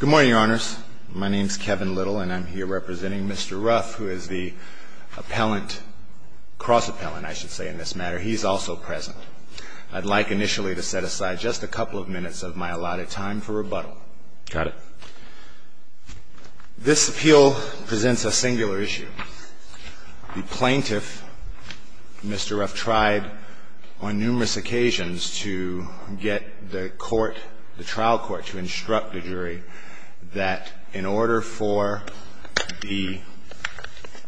Good morning, Your Honors. My name is Kevin Little, and I'm here representing Mr. Ruff, who is the cross-appellant. He's also present. I'd like initially to set aside just a couple of minutes of my allotted time for rebuttal. Got it. This appeal presents a singular issue. The plaintiff, Mr. Ruff, tried on numerous occasions to get the court, the trial court, to instruct the jury that in order for the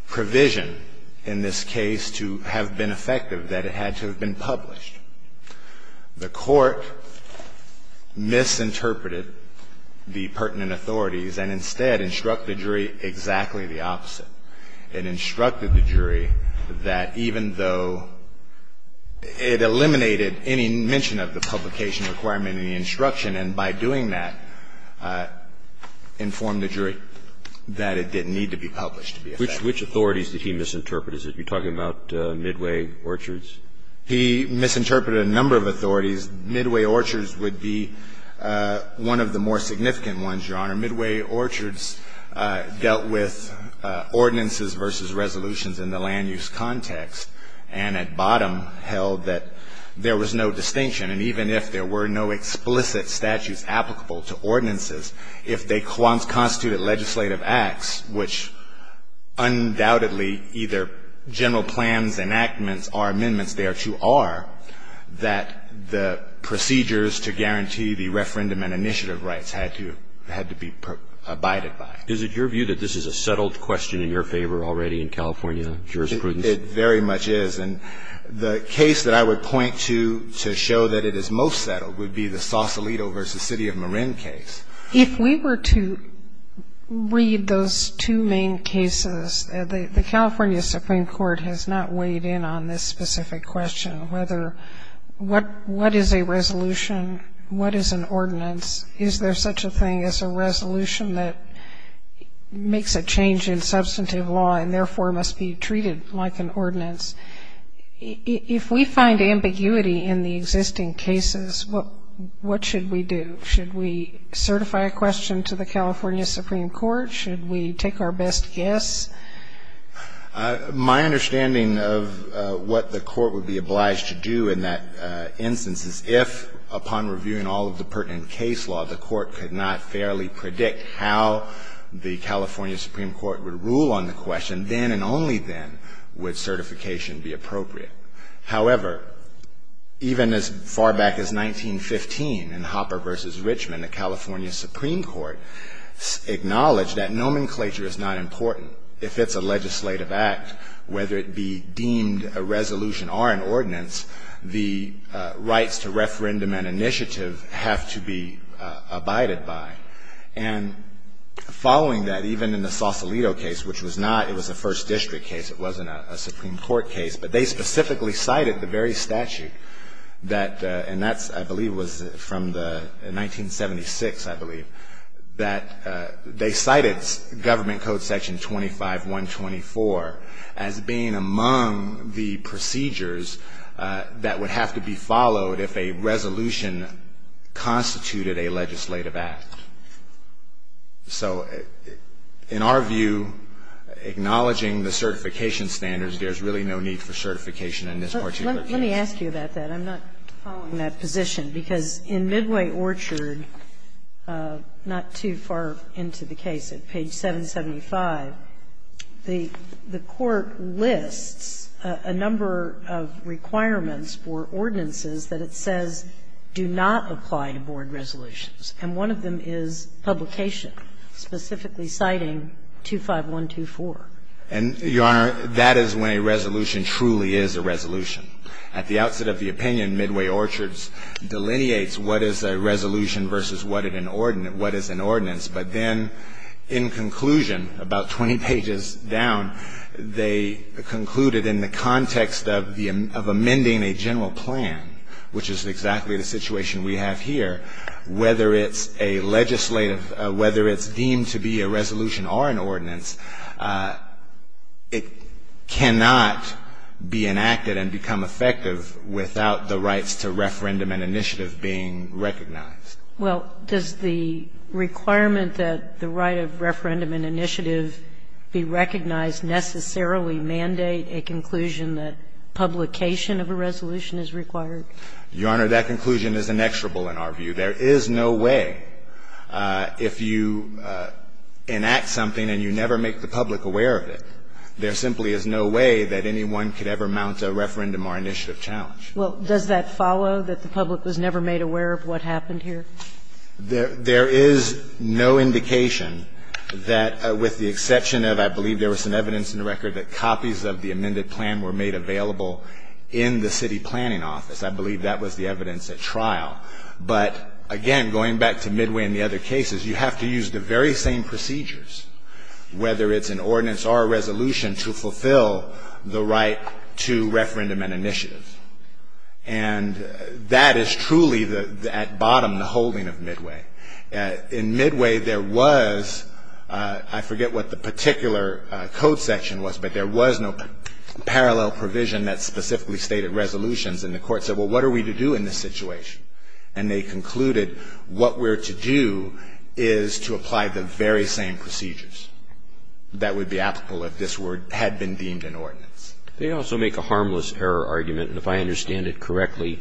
provision in this case to have been effective, that it had to have been published. The court misinterpreted the pertinent authorities and instead instructed the jury exactly the opposite. It instructed the jury that even though it eliminated any mention of the publication requirement in the instruction, and by doing that informed the jury that it didn't need to be published to be effective. Which authorities did he misinterpret? Are you talking about Midway, Orchards? He misinterpreted a number of authorities. Midway, Orchards would be one of the more significant ones, Your Honor. Midway, Orchards dealt with ordinances versus resolutions in the land use context, and at bottom held that there was no distinction. And even if there were no explicit statutes applicable to ordinances, if they constituted legislative acts, which undoubtedly either general plans, enactments, or amendments thereto are, that the procedures to guarantee the referendum and initiative rights had to be abided by. Is it your view that this is a settled question in your favor already in California jurisprudence? It very much is. And the case that I would point to to show that it is most settled would be the Sausalito v. City of Marin case. If we were to read those two main cases, the California Supreme Court has not weighed in on this specific question, whether what is a resolution, what is an ordinance. Is there such a thing as a resolution that makes a change in substantive law and therefore must be treated like an ordinance? If we find ambiguity in the existing cases, what should we do? Should we certify a question to the California Supreme Court? Should we take our best guess? My understanding of what the Court would be obliged to do in that instance is if, upon reviewing all of the pertinent case law, the Court could not fairly predict how the California Supreme Court would rule on the question, then and only then would certification be appropriate. However, even as far back as 1915 in Hopper v. Richmond, the California Supreme Court acknowledged that nomenclature is not important. If it's a legislative act, whether it be deemed a resolution or an ordinance, the rights to referendum and initiative have to be abided by. And following that, even in the Sausalito case, which was not, it was a first district case, it wasn't a Supreme Court case, but they specifically cited the very statute that, and that, I believe, was from the 1976, I believe, that they cited Government Code Section 25124 as being among the procedures that would have to be followed if a resolution constituted a legislative act. So in our view, acknowledging the certification standards, there's really no need for certification in this particular case. Let me ask you about that. I'm not following that position, because in Midway Orchard, not too far into the case, at page 775, the Court lists a number of requirements for ordinances that it says do not apply to board resolutions, and one of them is publication, specifically citing 25124. And, Your Honor, that is when a resolution truly is a resolution. At the outset of the opinion, Midway Orchard delineates what is a resolution versus what is an ordinance. But then in conclusion, about 20 pages down, they concluded in the context of amending a general plan, which is exactly the situation we have here, whether it's a legislative or whether it's deemed to be a resolution or an ordinance, it cannot be enacted and become effective without the rights to referendum and initiative being recognized. Well, does the requirement that the right of referendum and initiative be recognized necessarily mandate a conclusion that publication of a resolution is required? Your Honor, that conclusion is inexorable in our view. There is no way, if you enact something and you never make the public aware of it, there simply is no way that anyone could ever mount a referendum or initiative challenge. Well, does that follow, that the public was never made aware of what happened here? There is no indication that, with the exception of, I believe there was some evidence in the record that copies of the amended plan were made available in the city planning office. I believe that was the evidence at trial. But, again, going back to Midway and the other cases, you have to use the very same procedures, whether it's an ordinance or a resolution, to fulfill the right to referendum and initiative. And that is truly, at bottom, the holding of Midway. In Midway, there was, I forget what the particular code section was, but there was no parallel provision that specifically stated resolutions. And the court said, well, what are we to do in this situation? And they concluded what we're to do is to apply the very same procedures that would be applicable if this had been deemed an ordinance. They also make a harmless error argument. And if I understand it correctly,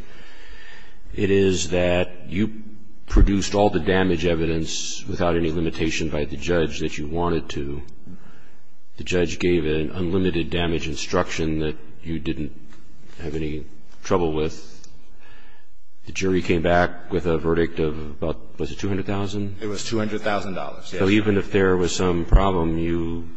it is that you produced all the damage evidence without any limitation by the judge that you wanted to. The judge gave an unlimited damage instruction that you didn't have any trouble with. The jury came back with a verdict of about, was it $200,000? It was $200,000, yes. So even if there was some problem, you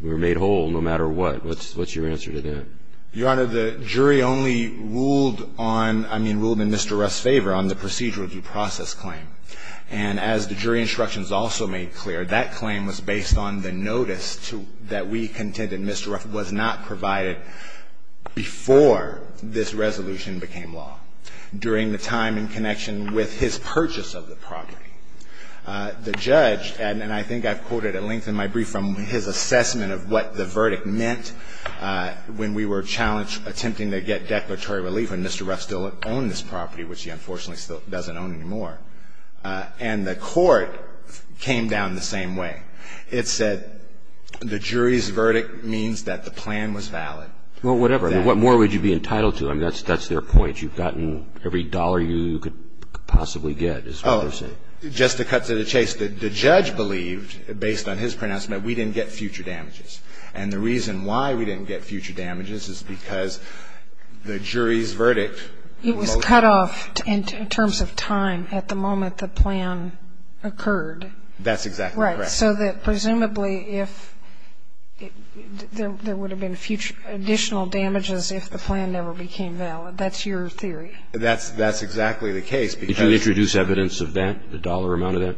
were made whole, no matter what. What's your answer to that? Your Honor, the jury only ruled on, I mean, ruled in Mr. Ruff's favor on the procedural due process claim. And as the jury instructions also made clear, that claim was based on the notice that we contended Mr. Ruff was not provided before this resolution became law, during the time in connection with his purchase of the property. The judge, and I think I've quoted at length in my brief from his assessment of what the verdict meant when we were challenged, attempting to get declaratory relief when Mr. Ruff still owned this property, which he unfortunately still doesn't own anymore. And the court came down the same way. It said the jury's verdict means that the plan was valid. Well, whatever. What more would you be entitled to? I mean, that's their point. You've gotten every dollar you could possibly get, is what they're saying. Oh, just to cut to the chase. The judge believed, based on his pronouncement, we didn't get future damages. And the reason why we didn't get future damages is because the jury's verdict was cut off. It was cut off in terms of time at the moment the plan occurred. That's exactly correct. Right. So that presumably if there would have been future additional damages if the plan never became valid. That's your theory. That's exactly the case because Did you introduce evidence of that, the dollar amount of that?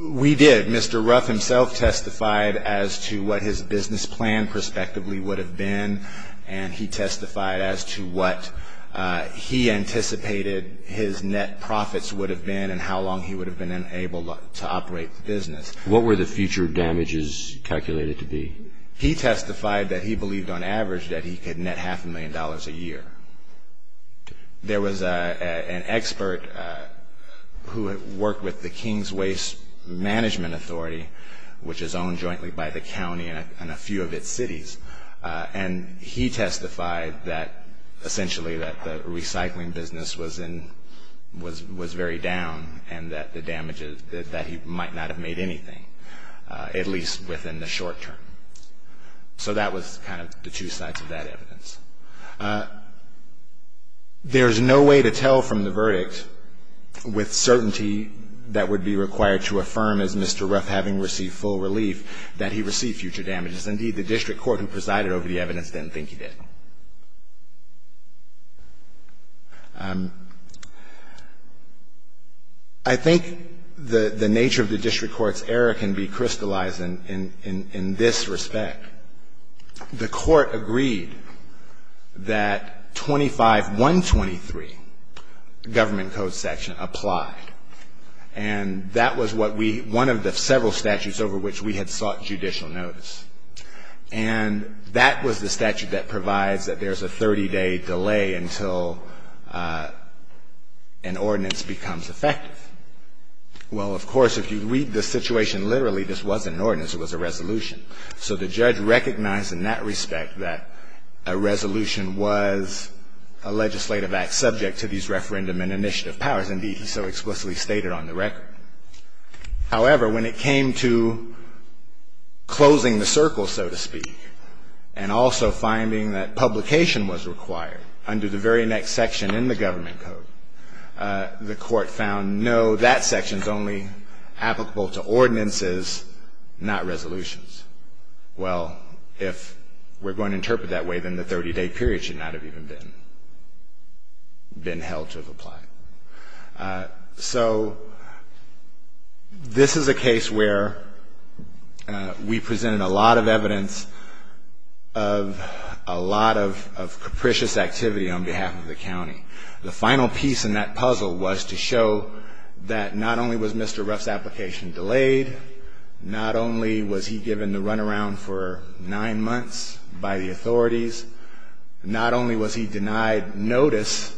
We did. Mr. Ruff himself testified as to what his business plan prospectively would have been, and he testified as to what he anticipated his net profits would have been and how long he would have been able to operate the business. What were the future damages calculated to be? He testified that he believed on average that he could net half a million dollars a year. There was an expert who had worked with the King's Waste Management Authority, which is owned jointly by the county and a few of its cities, and he testified that essentially that the recycling business was very down and that he might not have made anything, at least within the short term. So that was kind of the two sides of that evidence. There's no way to tell from the verdict with certainty that would be required to affirm as Mr. Ruff having received full relief that he received future damages. Indeed, the district court who presided over the evidence didn't think he did. I think the nature of the district court's error can be crystallized in this respect. The court agreed that 25.123, government code section, applied, and that was one of the several statutes over which we had sought judicial notice, and that was the one that provides that there's a 30-day delay until an ordinance becomes effective. Well, of course, if you read the situation literally, this wasn't an ordinance. It was a resolution. So the judge recognized in that respect that a resolution was a legislative act subject to these referendum and initiative powers. Indeed, he so explicitly stated on the record. However, when it came to closing the circle, so to speak, and also finding that publication was required under the very next section in the government code, the court found, no, that section's only applicable to ordinances, not resolutions. Well, if we're going to interpret that way, then the 30-day period should not have even been held to apply. So this is a case where we presented a lot of evidence of a lot of capricious activity on behalf of the county. The final piece in that puzzle was to show that not only was Mr. Ruff's application delayed, not only was he given the runaround for nine months by the authorities, not only was he denied notice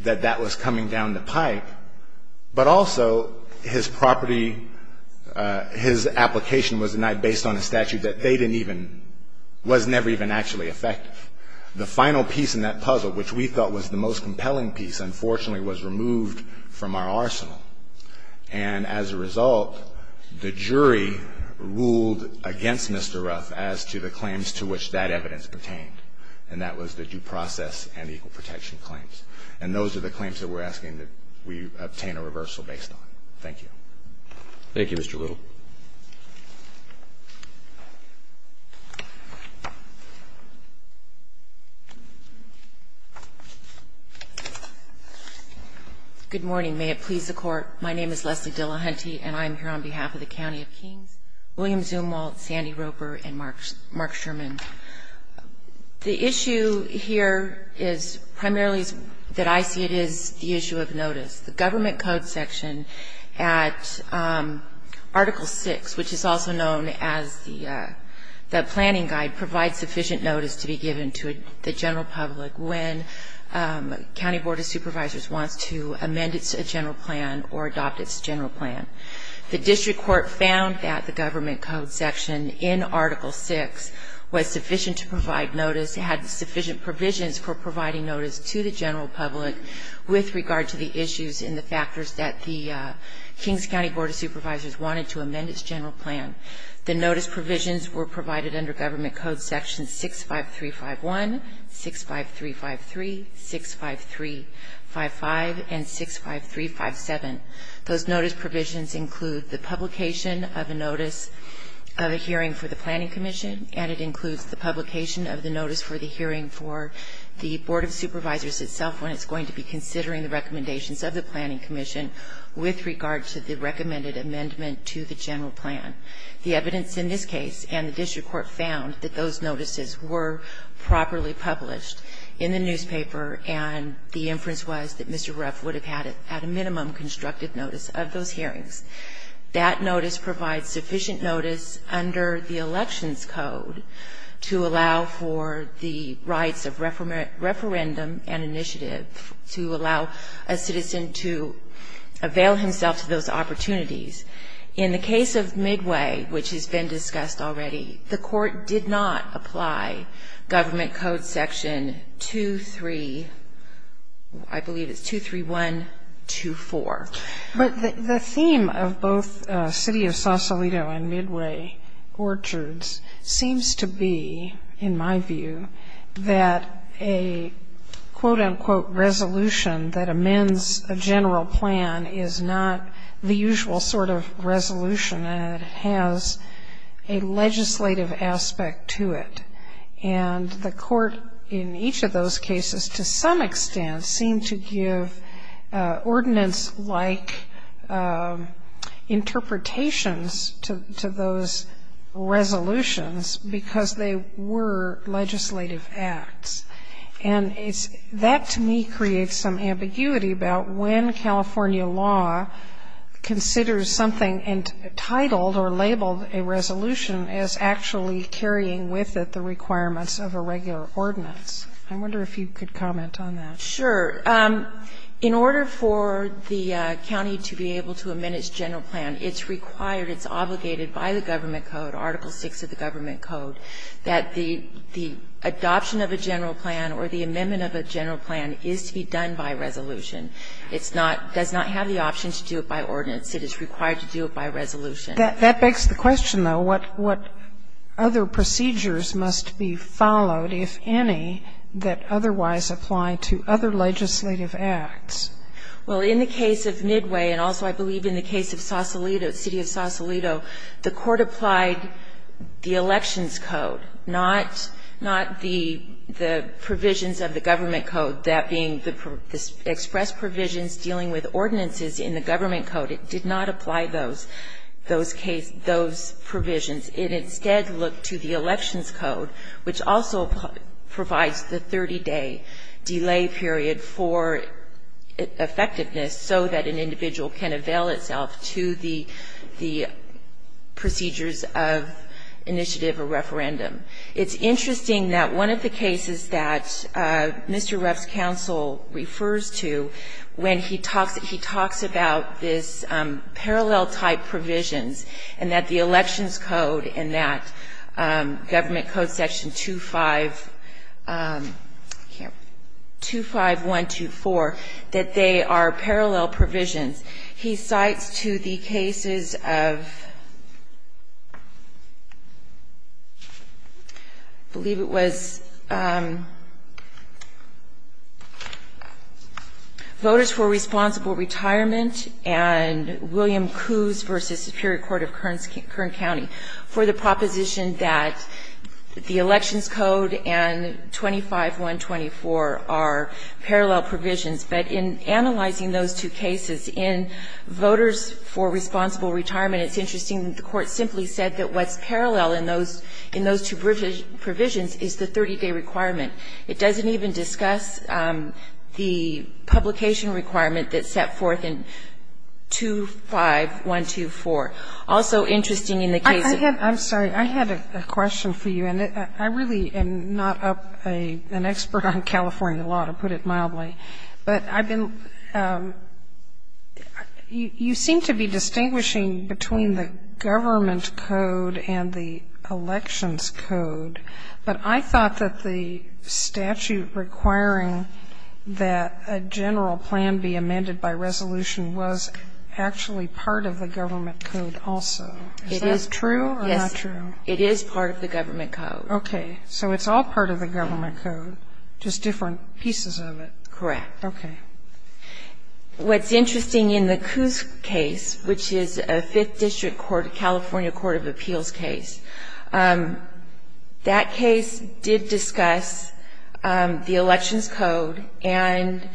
that that was coming down the pipe, but also his property, his application was denied based on a statute that they didn't even, was never even actually effective. The final piece in that puzzle, which we thought was the most compelling piece, unfortunately was removed from our arsenal. And as a result, the jury ruled against Mr. Ruff as to the claims to which that was claimed. And that was the due process and equal protection claims. And those are the claims that we're asking that we obtain a reversal based on. Thank you. Thank you, Mr. Little. Good morning. May it please the Court. My name is Leslie Dillahunty, and I am here on behalf of the County of Kings, William Zumwalt, Sandy Roper, and Mark Sherman. The issue here is primarily that I see it as the issue of notice. The Government Code section at Article VI, which is also known as the Planning Guide, provides sufficient notice to be given to the general public when a county board of supervisors wants to amend its general plan or adopt its general plan. The district court found that the Government Code section in Article VI was sufficient to provide notice, had sufficient provisions for providing notice to the general public with regard to the issues and the factors that the Kings County Board of Supervisors wanted to amend its general plan. The notice provisions were provided under Government Code sections 65351, 65353, 65355, and 65357. Those notice provisions include the publication of a notice of a hearing for the Planning Commission, and it includes the publication of the notice for the hearing for the Board of Supervisors itself when it's going to be considering the recommendations of the Planning Commission with regard to the recommended amendment to the general plan. The evidence in this case and the district court found that those notices were properly published in the newspaper, and the inference was that Mr. Ruff would have had at a minimum constructive notice of those hearings. That notice provides sufficient notice under the Elections Code to allow for the rights of referendum and initiative to allow a citizen to avail himself to those opportunities. In the case of Midway, which has been discussed already, the court did not apply Government Code section 23, I believe it's 23124. But the theme of both City of Sausalito and Midway Orchards seems to be, in my view, that a quote-unquote resolution that amends a general plan is not the usual sort of resolution, and it has a legislative aspect to it. And the court in each of those cases to some extent seemed to give ordinance-like interpretations to those resolutions because they were legislative acts. And that, to me, creates some ambiguity about when California law considers something entitled or labeled a resolution as actually carrying with it the requirements of a regular ordinance. I wonder if you could comment on that. Sure. In order for the county to be able to amend its general plan, it's required, it's obligated by the Government Code, Article VI of the Government Code, that the adoption of a general plan or the amendment of a general plan is to be done by resolution. It's not, does not have the option to do it by ordinance. It is required to do it by resolution. That begs the question, though, what other procedures must be followed, if any, that otherwise apply to other legislative acts? Well, in the case of Midway, and also I believe in the case of Sausalito, the city of Sausalito, the court applied the Elections Code, not the provisions of the Government Code, that being the express provisions dealing with ordinances in the Government Code. It did not apply those, those provisions. It instead looked to the Elections Code, which also provides the 30-day delay period for effectiveness so that an individual can avail itself to the procedures of initiative or referendum. It's interesting that one of the cases that Mr. Ruff's counsel refers to, when he talks about this parallel-type provisions, and that the Elections Code and that Government Code section 25, here, 25124, that they are parallel provisions, he cites to the cases of, I believe it was, voters who are responsible retirement, and William Coos v. Superior Court of Kern County, for the proposition that the Elections Code and 25124 are parallel provisions. But in analyzing those two cases, in voters for responsible retirement, it's interesting that the court simply said that what's parallel in those two provisions is the 30-day requirement. It doesn't even discuss the publication requirement that's set forth in 25124. Also interesting in the case of the other cases. Sotomayor, I'm sorry. I had a question for you. And I really am not an expert on California law, to put it mildly. But I've been you seem to be distinguishing between the Government Code and the Elections Code, but I thought that the statute requiring that a general plan be amended by resolution was actually part of the Government Code also. Is that true or not true? Yes. It is part of the Government Code. Okay. So it's all part of the Government Code, just different pieces of it. Correct. Okay. What's interesting in the Coos case, which is a Fifth District court, a California Court of Appeals case, that case did discuss the Elections Code and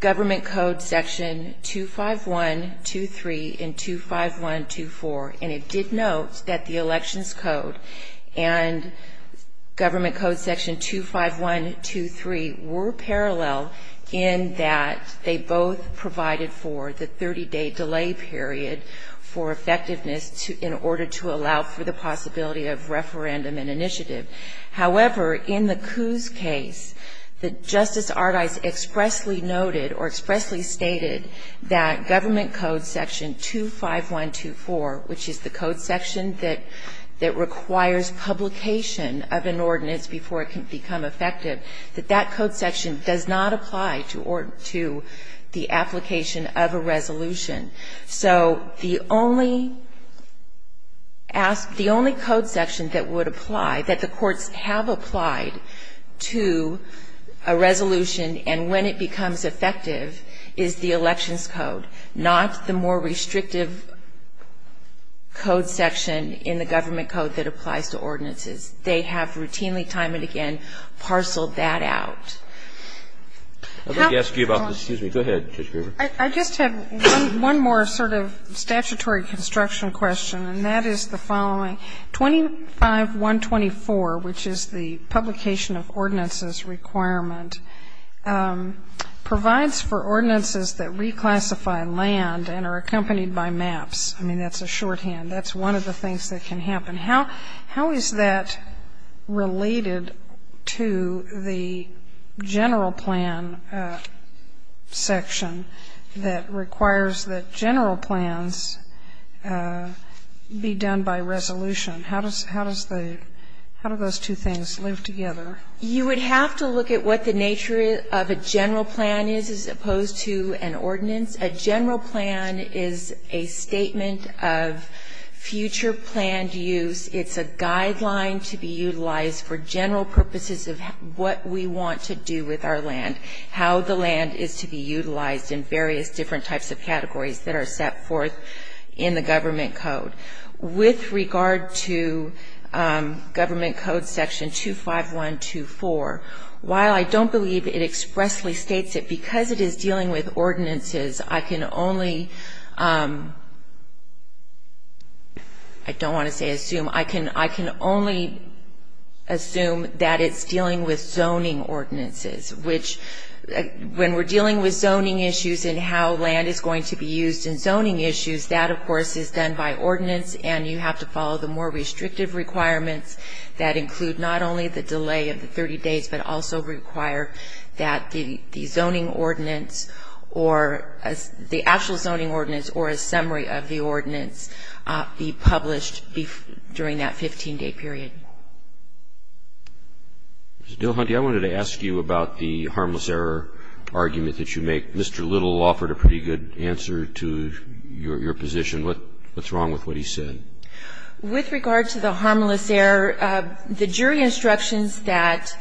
Government Code section 25123 and 25124. And it did note that the Elections Code and Government Code section 25123 were in that they both provided for the 30-day delay period for effectiveness in order to allow for the possibility of referendum and initiative. However, in the Coos case, Justice Ardice expressly noted or expressly stated that Government Code section 25124, which is the code section that requires publication of an ordinance before it can become effective, that that code section does not apply to the application of a resolution. So the only code section that would apply, that the courts have applied to a resolution and when it becomes effective is the Elections Code, not the more restrictive code section in the Government Code that applies to ordinances. They have routinely, time and again, parceled that out. Go ahead, Judge Gruber. I just have one more sort of statutory construction question, and that is the following. 25124, which is the publication of ordinances requirement, provides for ordinances that reclassify land and are accompanied by maps. I mean, that's a shorthand. That's one of the things that can happen. How is that related to the general plan section that requires that general plans be done by resolution? How do those two things live together? You would have to look at what the nature of a general plan is as opposed to an ordinance. A general plan is a statement of future planned use. It's a guideline to be utilized for general purposes of what we want to do with our land, how the land is to be utilized in various different types of categories that are set forth in the Government Code. With regard to Government Code section 25124, while I don't believe it expressly states it, because it is dealing with ordinances, I can only, I don't want to say assume, I can only assume that it's dealing with zoning ordinances, which when we're dealing with zoning issues and how land is going to be used in zoning issues, that, of course, is done by ordinance, and you have to follow the more restrictive requirements that include not only the delay of the 30 days, but also require that the zoning ordinance or the actual zoning ordinance or a summary of the ordinance be published during that 15-day period. Mr. Dilhunty, I wanted to ask you about the harmless error argument that you make. Mr. Little offered a pretty good answer to your position. What's wrong with what he said? With regard to the harmless error, the jury instructions that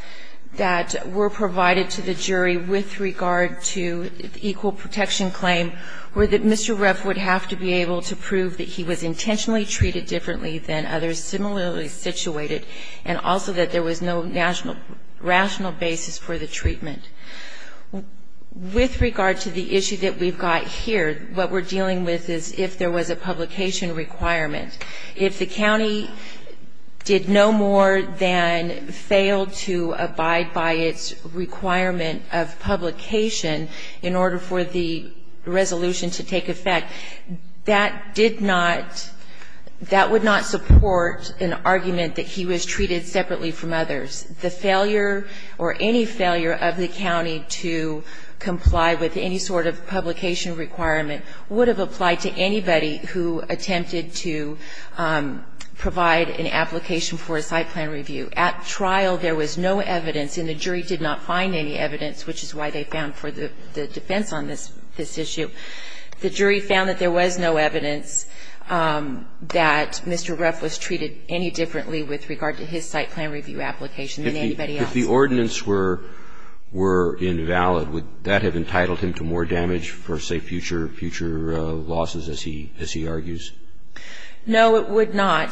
were provided to the jury with regard to the equal protection claim were that Mr. Ruff would have to be able to prove that he was intentionally treated differently than others similarly situated, and also that there was no rational basis for the treatment. With regard to the issue that we've got here, what we're dealing with is if there was a publication requirement, if the county did no more than fail to abide by its requirement of publication in order for the resolution to take effect, that did not, that would not support an argument that he was treated separately from others. The failure or any failure of the county to comply with any sort of publication requirement would have applied to anybody who attempted to provide an application for a site plan review. At trial, there was no evidence, and the jury did not find any evidence, which is why they found for the defense on this issue. The jury found that there was no evidence that Mr. Ruff was treated any differently with regard to his site plan review application than anybody else. If the ordinance were invalid, would that have entitled him to more damage for, say, future losses, as he argues? No, it would not.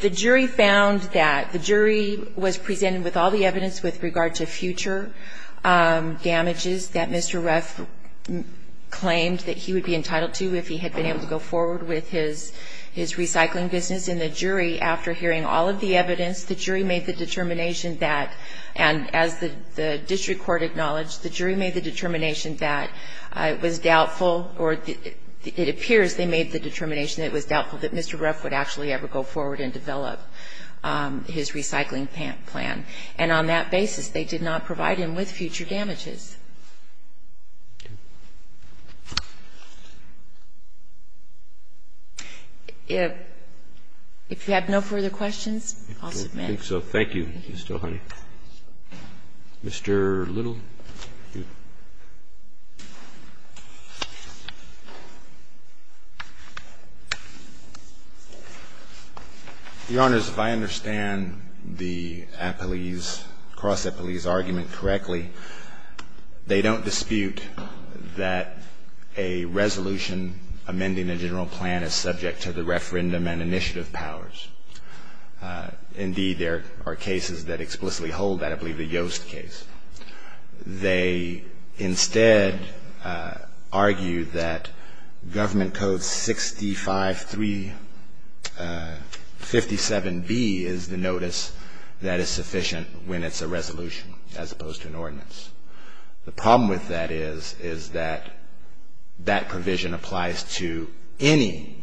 The jury found that the jury was presented with all the evidence with regard to future damages that Mr. Ruff claimed that he would be entitled to if he had been able to go forward with his recycling business. And the jury, after hearing all of the evidence, the jury made the determination that, and as the district court acknowledged, the jury made the determination that it was doubtful or it appears they made the determination that it was doubtful that Mr. Ruff would actually ever go forward and develop his recycling plan. And on that basis, they did not provide him with future damages. If you have no further questions, I'll submit. Thank you. Thank you. Mr. Little. Your Honors, if I understand the appellee's, cross-appellee's argument correctly, they don't dispute that a resolution amending a general plan is subject to the referendum and initiative powers. Indeed, there are cases that explicitly hold that. I believe the Yoast case. They instead argue that Government Code 653-57B is the notice that is sufficient when it's a resolution as opposed to an ordinance. The problem with that is, is that that provision applies to any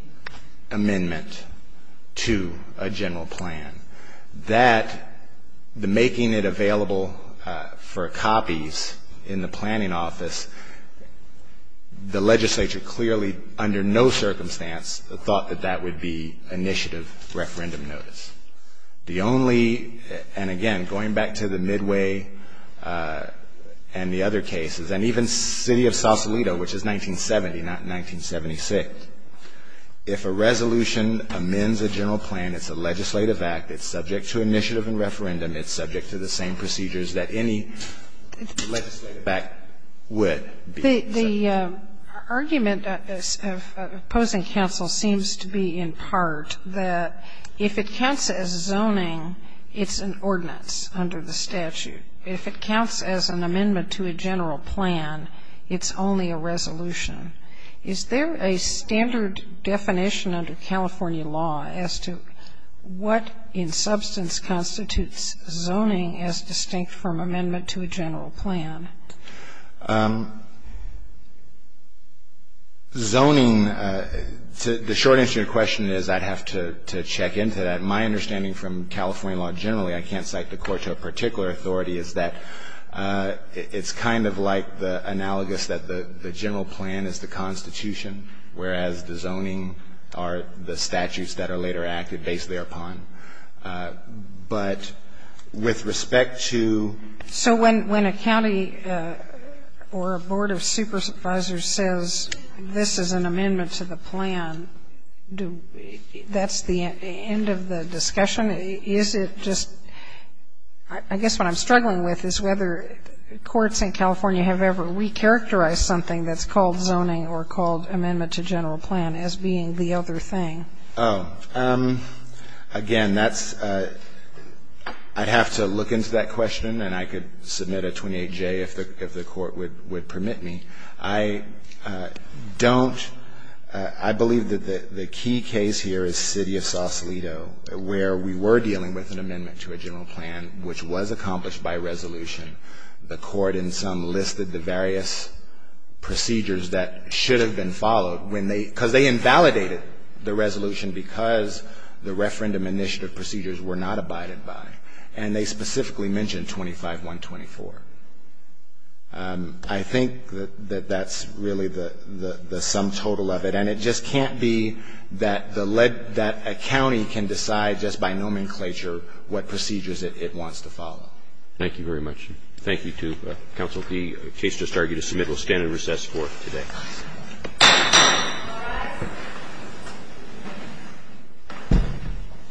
amendment to a general plan. That, the making it available for copies in the planning office, the legislature clearly, under no circumstance, thought that that would be initiative referendum notice. The only, and again, going back to the Midway and the other cases, and even City of Sausalito, which is 1970, not 1976, if a resolution amends a general plan, it's a legislative act, it's subject to initiative and referendum, it's subject to the same procedures that any legislative act would. The argument of opposing counsel seems to be in part that if it counts as zoning, it's an ordinance under the statute. If it counts as an amendment to a general plan, it's only a resolution. Is there a standard definition under California law as to what in substance constitutes zoning as distinct from amendment to a general plan? Zoning, the short answer to your question is I'd have to check into that. My understanding from California law generally, I can't cite the court to a particular authority, is that it's kind of like the analogous that the general plan is the Constitution, whereas the zoning are the statutes that are later acted based thereupon. Or a board of supervisors says this is an amendment to the plan, that's the end of the discussion? Is it just, I guess what I'm struggling with is whether courts in California have ever recharacterized something that's called zoning or called amendment to general plan as being the other thing. Oh, again, that's, I'd have to look into that question and I could submit a 28J if the court would permit me. I don't, I believe that the key case here is city of Sausalito where we were dealing with an amendment to a general plan which was accomplished by resolution. The court in some listed the various procedures that should have been followed when they, because they invalidated the resolution because the referendum initiative procedures were not abided by. And they specifically mentioned 25124. I think that that's really the sum total of it. And it just can't be that the led, that a county can decide just by nomenclature what procedures it wants to follow. Thank you very much. Thank you too, Counsel. The case just argued is submitted. We'll stand at recess for today.